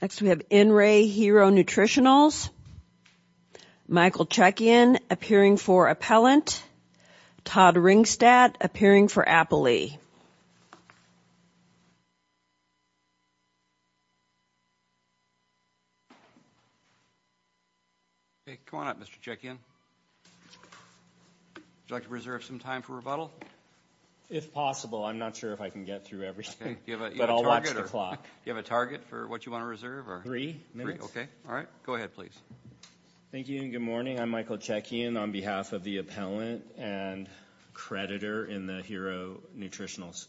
Next we have N Re Hero Nutritionals. Michael Chekian appearing for Appellant. Todd Ringstadt appearing for Appalee. Hey come on up Mr. Chekian. Would you like to reserve some time for rebuttal? If possible I'm not sure if I can get through everything but I'll watch the clock. Do you have a target for what you want to reserve? Three minutes. Okay all right go ahead please. Thank you and good morning. I'm Michael Chekian on behalf of the Appellant and creditor in the Hero Nutritionals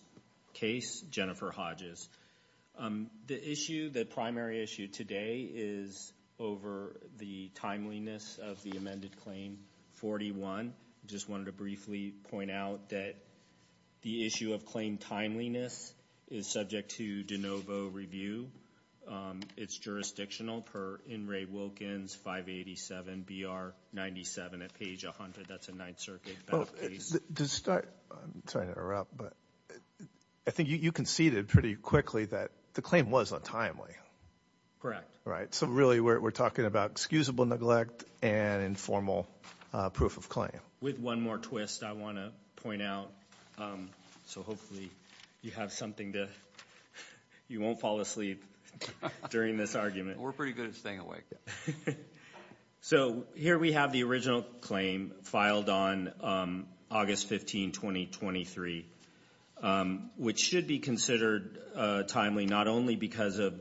case, Jennifer Hodges. The issue, the primary issue today is over the timeliness of the amended claim 41. Just wanted to briefly point out that the issue of claim timeliness is subject to de novo review. It's jurisdictional per In Re Wilkins 587 BR 97 at page 100. That's a Ninth Circuit case. To start, I'm sorry to interrupt but I think you conceded pretty quickly that the claim was untimely. Correct. Right so really we're talking about excusable neglect and informal proof of with one more twist I want to point out so hopefully you have something to you won't fall asleep during this argument. We're pretty good at staying awake. So here we have the original claim filed on August 15, 2023 which should be considered timely not only because of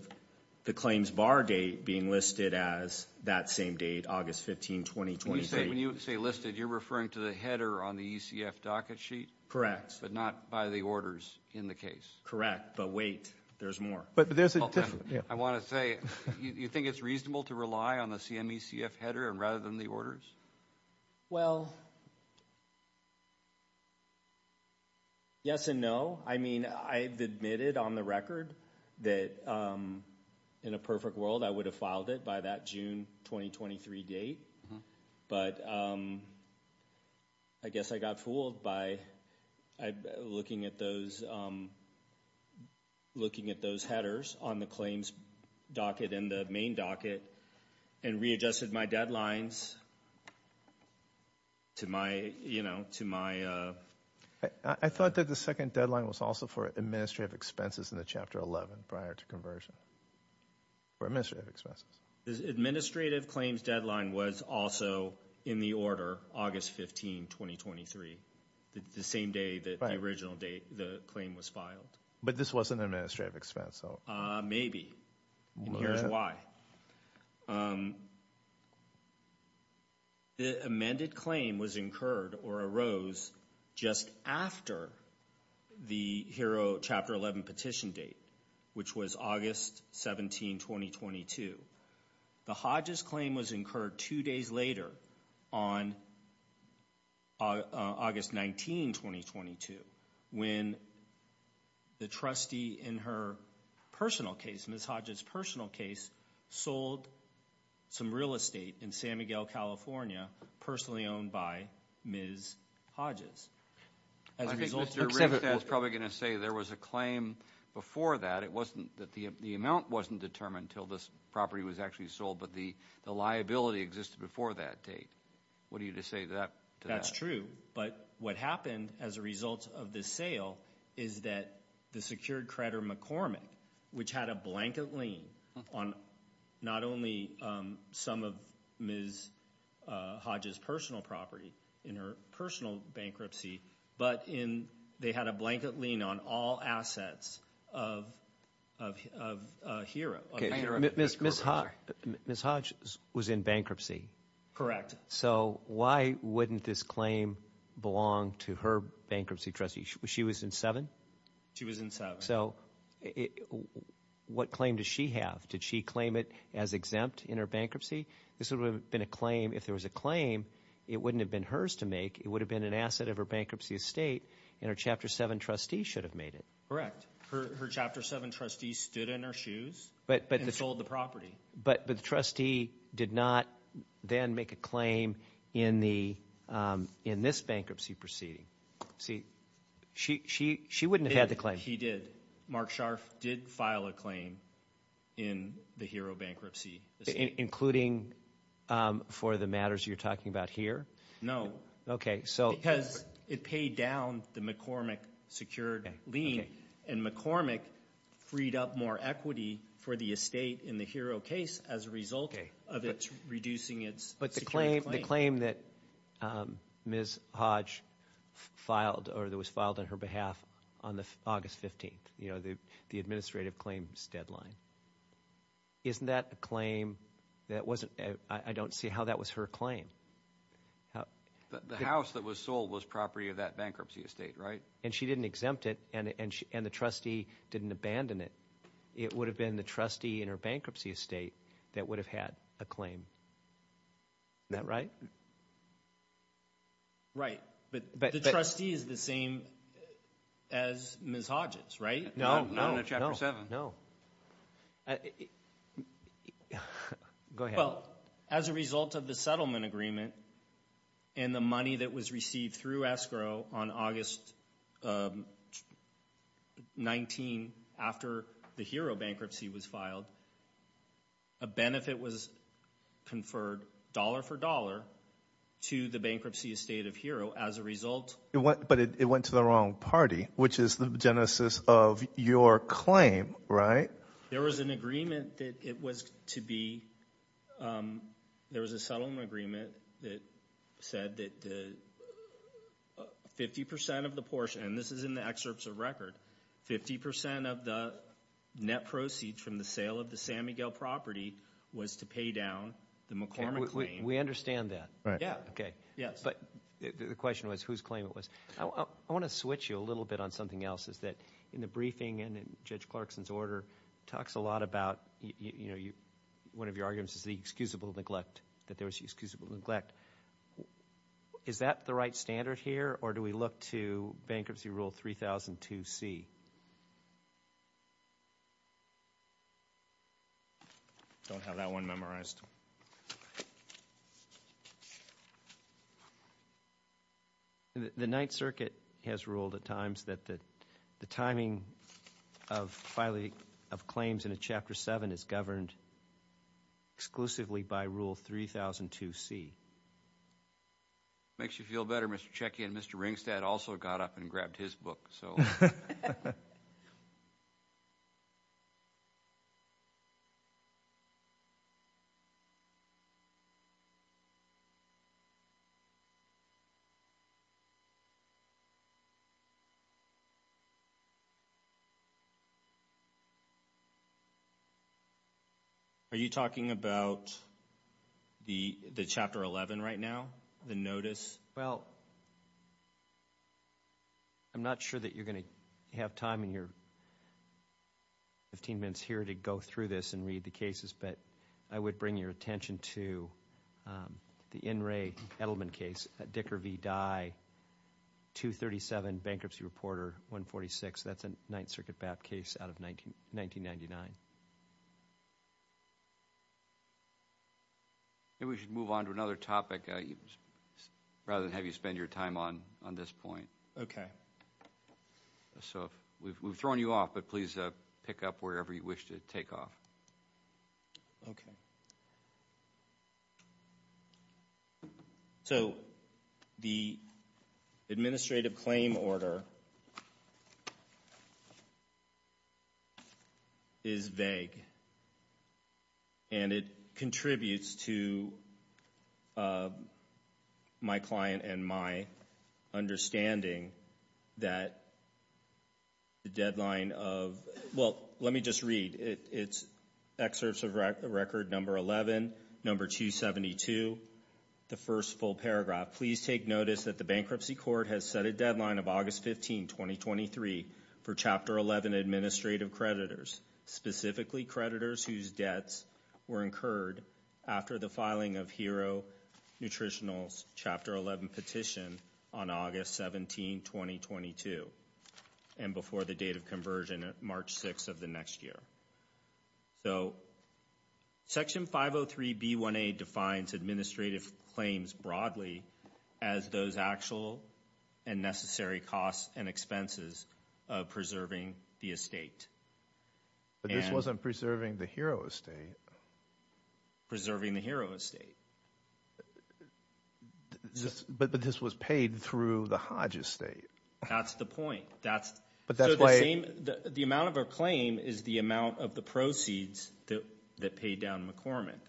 the claims bar date being listed as that same date August 15, 2023. When you say listed you're referring to the header on the ECF docket sheet? Correct. But not by the orders in the case? Correct but wait there's more. But there's a different. I want to say you think it's reasonable to rely on the CME CF header rather than the orders? Well yes and no. I mean I've admitted on the record that in a perfect world I would have filed it by that June 2023 date but I guess I got fooled by looking at those looking at those headers on the claims docket in the main docket and readjusted my deadlines to my you know to my. I thought that the second deadline was also for administrative expenses in the chapter 11 prior to conversion for administrative expenses. The administrative claims deadline was also in the order August 15, 2023 the same day that the original date the claim was filed. But this was an administrative expense? Maybe and here's why. The amended claim was incurred or arose just after the HERO chapter 11 petition date which was August 17, 2022. The Hodges claim was incurred two days later on August 19, 2022 when the trustee in her personal case, Ms. Hodges personal case, sold some real estate in San Miguel, California personally owned by Ms. Hodges. I think Mr. Ringstadt is probably going to say there was a claim before that. It wasn't that the amount wasn't determined until this property was actually sold but the liability existed before that date. What do you say to that? That's true but what happened as a result of this sale is that the secured creditor McCormick which had a blanket lien on not only some of Ms. Hodges personal property in her personal bankruptcy but in they had a blanket lien on all assets of HERO. Ms. Hodges was in bankruptcy? Correct. So why wouldn't this claim belong to her bankruptcy trustee? She was in seven? She was in seven. So what claim does she have? Did she claim it as exempt in her bankruptcy? This would have been a claim if there was a claim it wouldn't have been hers to make it would have been an asset of her bankruptcy estate and her chapter seven trustee should have made it. Correct. Her chapter seven trustee stood in her shoes and sold the property. But the trustee did not then make a claim in this bankruptcy proceeding. See she wouldn't have had the claim. He did. Mark Scharf did file a claim in the HERO bankruptcy. Including for the matters you're talking about here? No. Okay. Because it paid down the McCormick secured lien and McCormick freed up more equity for the estate in the HERO case as a result of it's reducing its claim. But the claim that Ms. Hodge filed or that was filed on her behalf on the August 15th you know the the administrative claims deadline isn't that a claim that wasn't I don't see how was her claim. The house that was sold was property of that bankruptcy estate right? And she didn't exempt it and the trustee didn't abandon it. It would have been the trustee in her bankruptcy estate that would have had a claim. Isn't that right? Right. But the trustee is the same as Ms. Hodges right? No. Not in a chapter seven. No. Go ahead. Well as a result of the settlement agreement and the money that was received through escrow on August 19 after the HERO bankruptcy was filed a benefit was conferred dollar for dollar to the bankruptcy estate of HERO as a result. But it went to the wrong party which is the of your claim right? There was an agreement that it was to be there was a settlement agreement that said that the 50 percent of the portion and this is in the excerpts of record 50 percent of the net proceeds from the sale of the San Miguel property was to pay down the McCormick claim. We understand that. Right. Yeah. Okay. Yes. But the question was whose claim it was. I want to switch you a little bit on something else is that in the briefing and in Judge Clarkson's order talks a lot about you know you one of your arguments is the excusable neglect that there was excusable neglect. Is that the right standard here or do we look to bankruptcy rule 3002c? Don't have that one memorized. The Ninth Circuit has ruled at times that the timing of filing of claims in a Chapter 7 is governed exclusively by rule 3002c. Makes you feel better Mr. Checkian. Mr. Ringstadt also got up and grabbed his book so. Are you talking about the Chapter 11 right now? The notice? Well, I'm not sure that you're going to have time in your 15 minutes here to go through this and read the cases but I would bring your attention to the In Re Edelman case at Dicker v. Dye 237 bankruptcy reporter 146. That's a Ninth Circuit BAP case out of 1999. Maybe we should move on to another topic rather than have you spend your time on on this point. Okay. So we've thrown you off but please pick up wherever you wish to take off. Okay. So the administrative claim order is vague and it contributes to my client and my understanding that the deadline of, well, let me just read. It's excerpts of record number 11, number 272, the first full paragraph. Please take notice that the bankruptcy court has set a deadline of August 15, 2023 for Chapter 11 administrative creditors, specifically creditors whose debts were incurred after the filing of Hero Nutritional's Chapter 11 petition on August 17, 2022 and before the date of conversion at March 6 of the next year. So Section 503 B1A defines administrative claims broadly as those actual and necessary costs and expenses of preserving the estate. But this wasn't preserving the Hero estate. Preserving the Hero estate. But this was paid through the Hodge estate. That's the point. But that's why the the amount of a claim is the amount of the proceeds that paid down McCormick.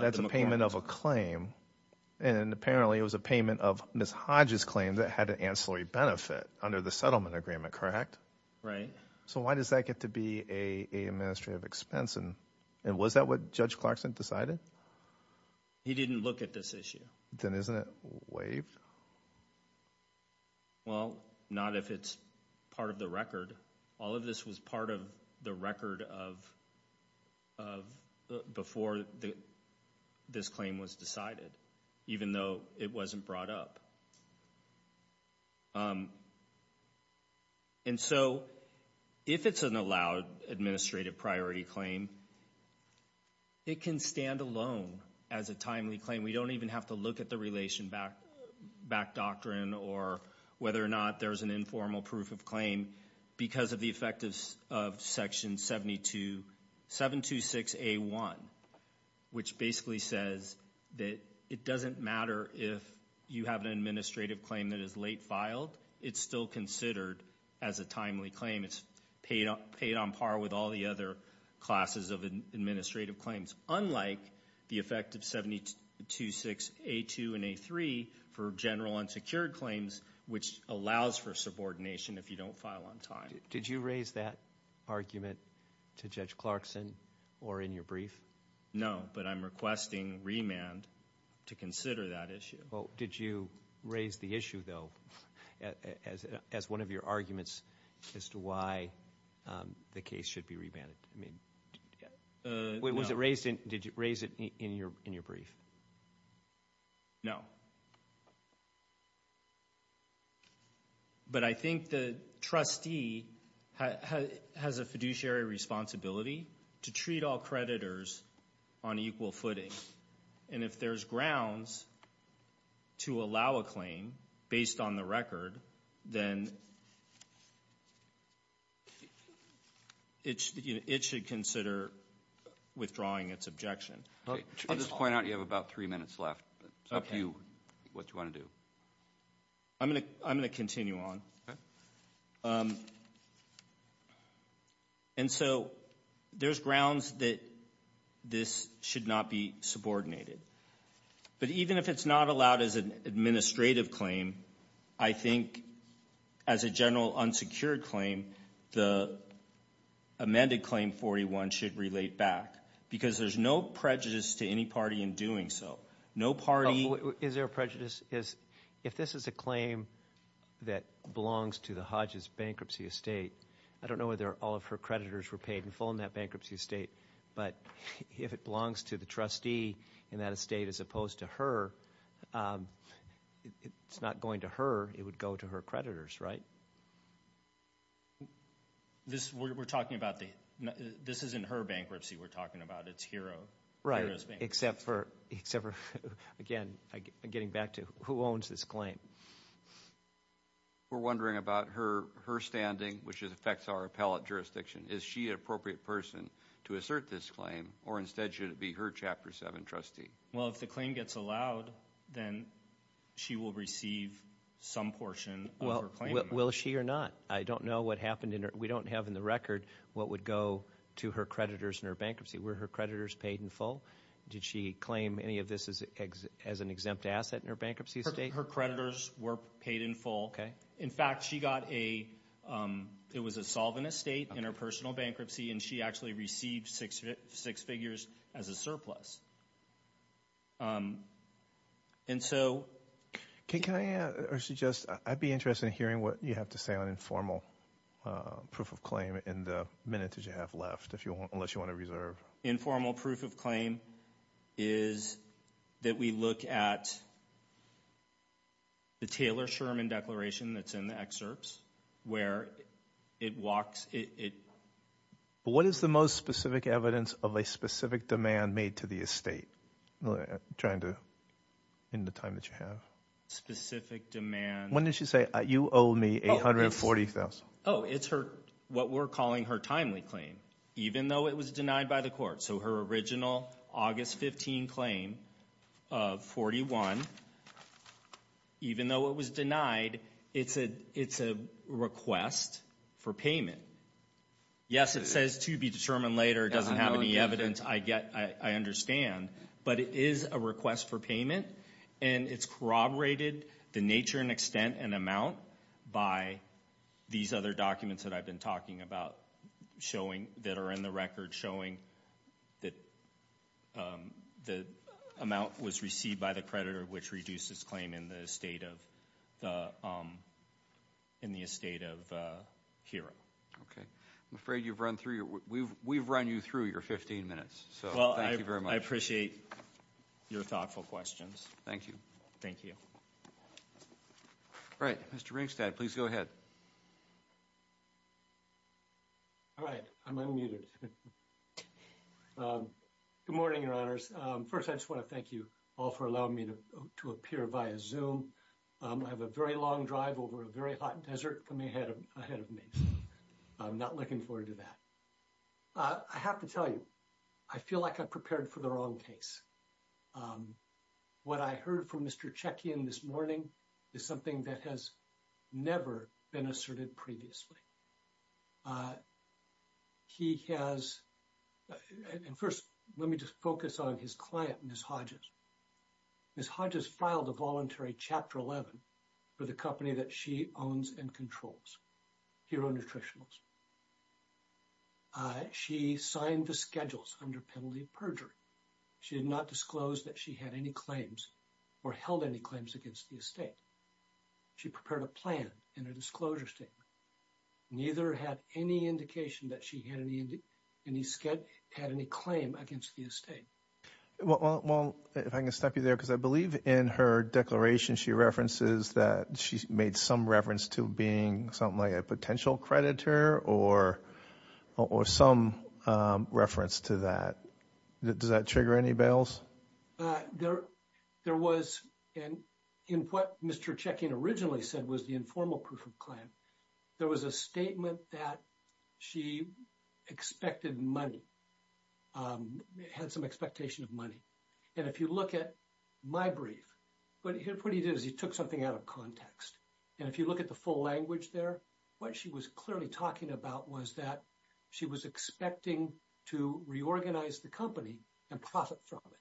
That's a payment of a claim and apparently it was a payment of Ms. Hodge's claim that had an ancillary benefit under the settlement agreement, correct? Right. So why does that get to be a administrative expense and was that what Judge Clarkson decided? He didn't look at this issue. Then isn't it waived? Well, not if it's part of the record. All of this was part of the record of of before the this claim was decided, even though it wasn't brought up. And so if it's an allowed administrative priority claim, it can stand alone as a timely claim. We don't even have to look at the relation back back doctrine or whether or not there's an informal proof of claim because of the effect of section 72726A1, which basically says that it doesn't matter if you have an administrative claim that is late filed. It's still considered as a timely claim. It's paid on par with all the other classes of administrative claims, unlike the effect of 7276A2 and A3 for general unsecured claims, which allows for subordination if you don't file on time. Did you raise that argument to Judge Clarkson or in your brief? No, but I'm requesting remand to consider that issue. Well, did you raise the issue, though, as one of your arguments as to why the case should be remanded? I mean, was it raised? Did you raise it in your brief? No. But I think the trustee has a fiduciary responsibility to treat all creditors on equal footing. And if there's grounds to allow a claim based on the record, then it should consider withdrawing its objection. I'll just point out you have about three minutes left. It's up to you what you want to do. I'm going to continue on. And so there's grounds that this should not be subordinated. But even if it's not allowed as an administrative claim, I think as a general unsecured claim, the amended Claim 41 should relate back because there's no prejudice to any party in doing so. No party... Is there a prejudice? If this is a claim that belongs to the Hodges bankruptcy estate, I don't know whether all of her creditors were paid in full in that bankruptcy estate, but if it belongs to the trustee in that estate as opposed to her, it's not going to her. It would go to her creditors, right? We're talking about the... This isn't her bankruptcy we're talking about. It's Hero's bankruptcy. Right, except for, again, getting back to who owns this claim. We're wondering about her standing, which affects our appellate jurisdiction. Is she an appropriate person to assert this claim, or instead should it be her Chapter 7 trustee? Well, if the claim gets allowed, then she will receive some portion of her claim. Will she or not? I don't know what happened in her... We don't have in the record what would go to her creditors in her bankruptcy. Were her creditors paid in full? Did she claim any of this as an exempt asset in her bankruptcy estate? Her creditors were paid in full. In fact, she got a... It was a solvent estate in her personal estate. And so... Can I add or suggest... I'd be interested in hearing what you have to say on informal proof of claim in the minutes that you have left, unless you want to reserve. Informal proof of claim is that we look at the Taylor-Sherman Declaration that's in the excerpts, where it walks... But what is the most specific evidence of a specific demand made to the estate? Trying to... In the time that you have. Specific demand... When did she say, you owe me $840,000? Oh, it's her... What we're calling her timely claim, even though it was denied by the court. So her original August 15 claim of 41, even though it was denied, it's a request for payment. Yes, it says to be determined later. It doesn't have any evidence, I understand. But it is a request for payment. And it's corroborated, the nature and extent and amount, by these other documents that I've been talking about, showing... That are in the record, showing that the amount was received by the creditor, which reduces claim in the estate of Hero. Okay. I'm afraid you've run through your... We've run you through your 15 minutes. So thank you very much. I appreciate your thoughtful questions. Thank you. Thank you. All right. Mr. Ringstead, please go ahead. All right. I'm unmuted. Good morning, Your Honors. First, I just want to thank you all for allowing me to appear via Zoom. I have a very long drive over a very hot desert coming ahead of me. I'm not looking forward to that. I have to tell you, I feel like I prepared for the wrong case. What I heard from Mr. Chekian this morning is something that has never been asserted previously. He has... And first, let me just focus on his client, Ms. Hodges. Ms. Hodges filed a voluntary Chapter 11 for the company that she owns and controls, Hero Nutritionals. She signed the schedules under penalty of perjury. She did not disclose that she had any claims or held any claims against the estate. She prepared a plan in her disclosure statement. Neither had any indication that she had any claim against the estate. Well, if I can stop you there, because I believe in her declaration, she references that she's made some reference to being something like a potential creditor or some reference to that. Does that trigger any bails? There was... And in what Mr. Chekian originally said was the informal proof of claim, there was a statement that she expected money, had some expectation of money. And if you look at my brief, what he did is he took something out of context. And if you look at the full language there, what she was clearly talking about was that she was expecting to reorganize the company and profit from it.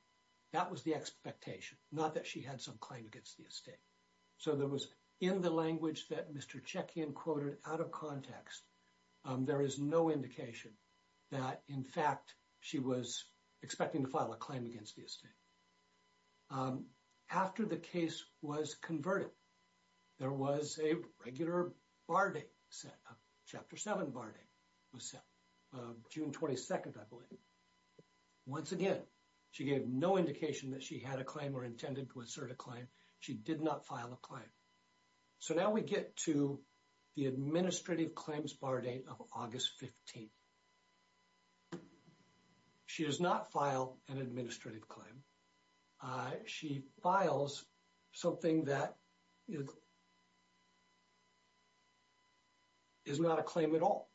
That was the expectation, not that she had some claim against the estate. So there was in the language that Mr. Chekian quoted out of context, there is no indication that in fact, she was expecting to file a claim against the estate. After the case was converted, there was a regular bar date set, Chapter 7 bar date was set, June 22nd, I believe. Once again, she gave no indication that she had a claim or intended to assert a claim. She did not file a claim. So now we get to the administrative claims bar date of August 15th. She does not file an administrative claim. She files something that is not a claim at all.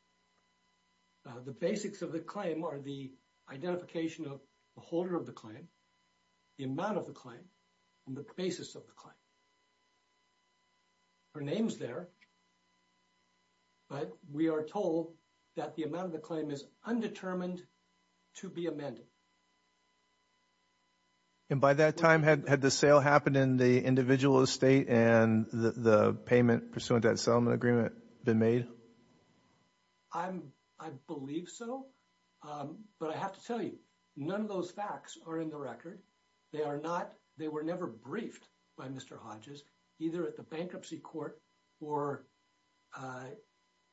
The basics of the claim are the identification of the holder of the claim, the amount of the claim, and the basis of the claim. Her name's there, but we are told that the amount of the claim is undetermined to be amended. And by that time, had the sale happened in the individual estate and the payment pursuant to that settlement agreement been made? I believe so. But I have to tell you, none of those facts are in the record. They were never briefed by Mr. Hodges, either at the bankruptcy court or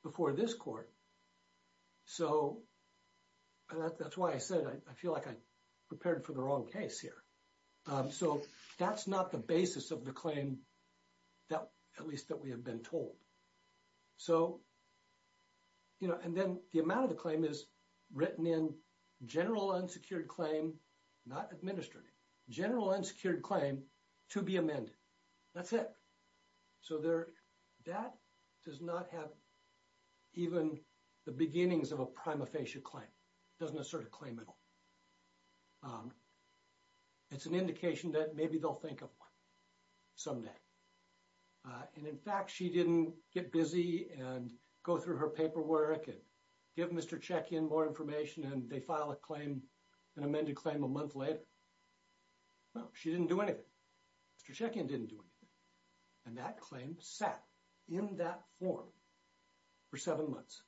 before this court. So that's why I said I feel like I prepared for the wrong case here. So that's not the basis of the claim, at least that we have been told. And then the amount of the claim is written in general unsecured claim, not administrative, general unsecured claim to be amended. That's it. So that does not have even the beginnings of a prima facie claim, doesn't assert a claim at all. It's an indication that maybe they'll think of one someday. And in fact, she didn't get busy and go through her paperwork and give Mr. Shekin more information and they file a claim, an amended claim a month later. No, she didn't do anything. Mr. Shekin didn't do anything. And that claim sat in that form for seven months.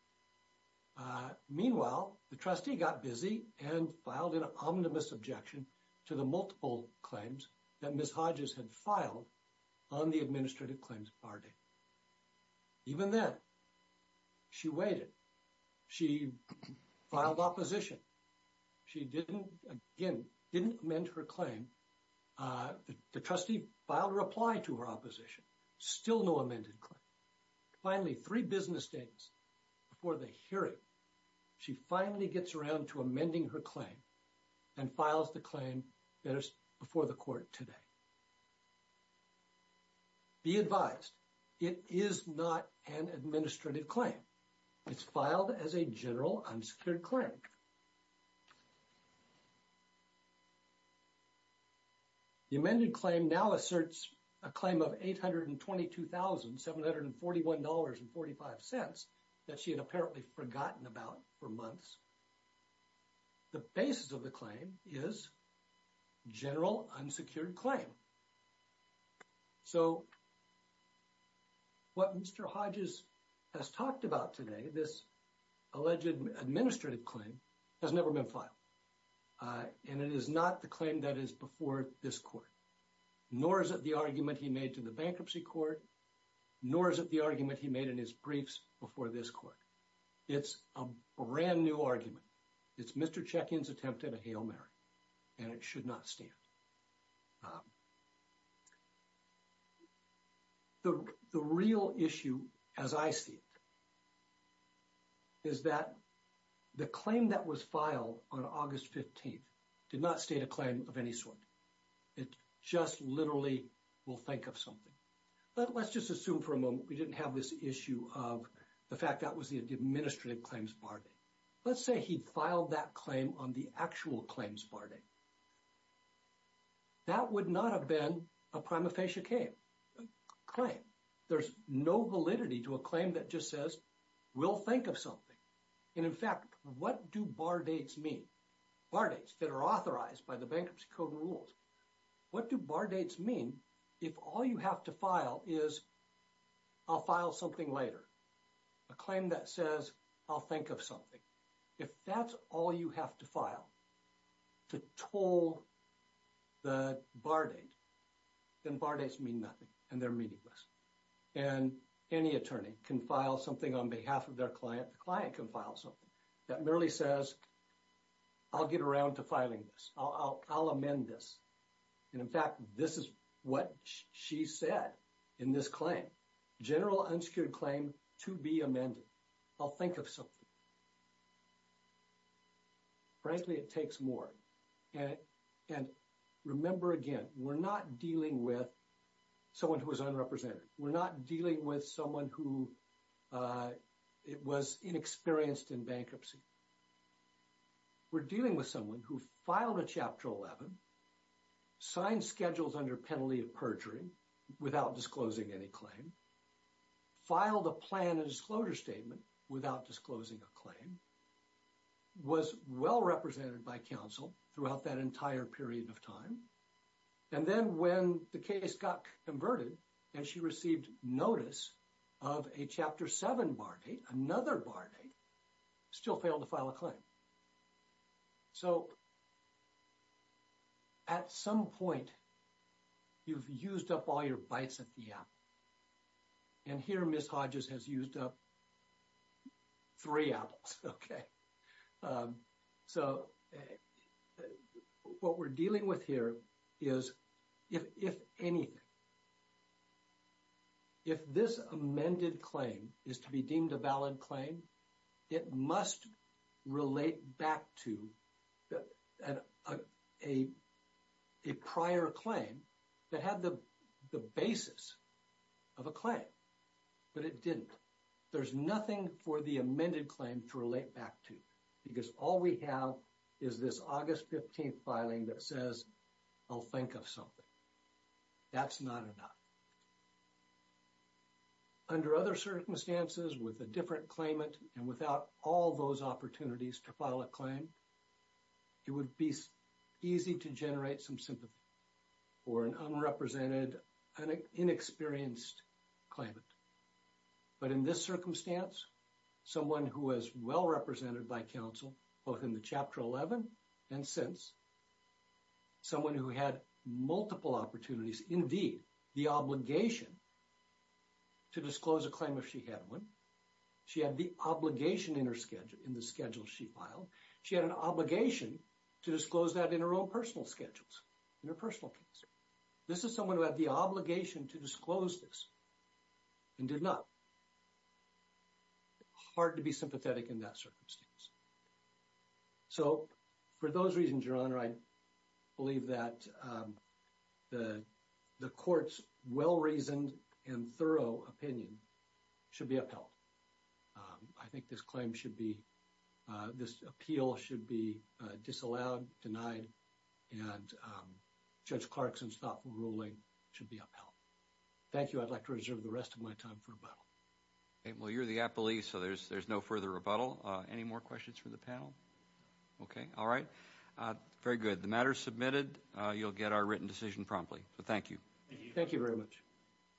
Meanwhile, the trustee got busy and filed an omnibus objection to the multiple claims that Ms. Hodges had filed on the administrative claims party. Even then, she waited. She filed opposition. She didn't, again, didn't amend her claim. The trustee filed a reply to her opposition, still no amended claim. Finally, three business days before the hearing, she finally gets around to amending her claim and files the claim that is before the court today. Be advised, it is not an administrative claim. It's filed as a general unsecured claim. The amended claim now asserts a claim of $822,741.45 that she had apparently forgotten about for months. The basis of the claim is general unsecured claim. So what Mr. Hodges has talked about today, this alleged administrative claim has never been filed. And it is not the claim that is before this court, nor is it the argument he made to the bankruptcy court, nor is it the argument he made in his briefs before this court. It's a brand new argument. It's Mr. Checkian's attempt at a Hail Mary, and it should not stand. The real issue, as I see it, is that the claim that was filed on August 15th did not state a claim of any sort. It just literally will think of something. But let's just assume for a moment we didn't have this issue of the fact that was the administrative claims bar date. Let's say he filed that claim on the actual claims bar date. That would not have been a prima facie claim. There's no validity to a claim that just says, we'll think of something. And in fact, what do bar dates mean? Bar dates that are authorized by the Bankruptcy Code rules. What do bar dates mean if all you have to file is, I'll file something later? A claim that says, I'll think of something. If that's all you have to file to toll the bar date, then bar dates mean nothing and they're meaningless. And any attorney can file something on behalf of their client. The client can file something that merely says, I'll get around to filing this. I'll amend this. And in fact, this is what she said in this claim. General unsecured claim to be amended. I'll think of something. Frankly, it takes more. And remember again, we're not dealing with someone who is unrepresented. We're not dealing with someone who was inexperienced in bankruptcy. We're dealing with someone who filed a Chapter 11, signed schedules under penalty of perjury without disclosing any claim, filed a plan and disclosure statement without disclosing a claim, was well represented by counsel throughout that entire period of time. And then when the case got converted and she received notice of a Chapter 7 bar date, another bar date, still failed to file a claim. So at some point, you've used up all your apples. And here, Ms. Hodges has used up three apples. Okay. So what we're dealing with here is, if anything, if this amended claim is to be deemed a valid claim, it must relate back to a prior claim that had the basis of a claim, but it didn't. There's nothing for the amended claim to relate back to because all we have is this August 15th filing that says, I'll think of something. That's not enough. Under other circumstances with a different claimant and without all those opportunities to file a claim, it would be easy to generate some sympathy for an unrepresented, an inexperienced claimant. But in this circumstance, someone who was well represented by counsel, both in the Chapter 11 and since, someone who had multiple opportunities, indeed, the obligation to disclose a claim if she had one. She had the obligation in the schedule she filed. She had an obligation to disclose that in her own personal schedules, in her personal case. This is someone who had the obligation to disclose this and did not. Hard to be sympathetic in that circumstance. So for those reasons, Your Honor, I believe that the court's well-reasoned and thorough opinion should be upheld. I think this claim should be, this appeal should be disallowed, denied, and Judge Clarkson's thoughtful ruling should be upheld. Thank you. I'd like to reserve the rest of my time for rebuttal. Well, you're the appellee, so there's no further rebuttal. Any more questions for the panel? Okay. All right. Very good. The matter's submitted. You'll get our written decision promptly. So thank you. Thank you very much.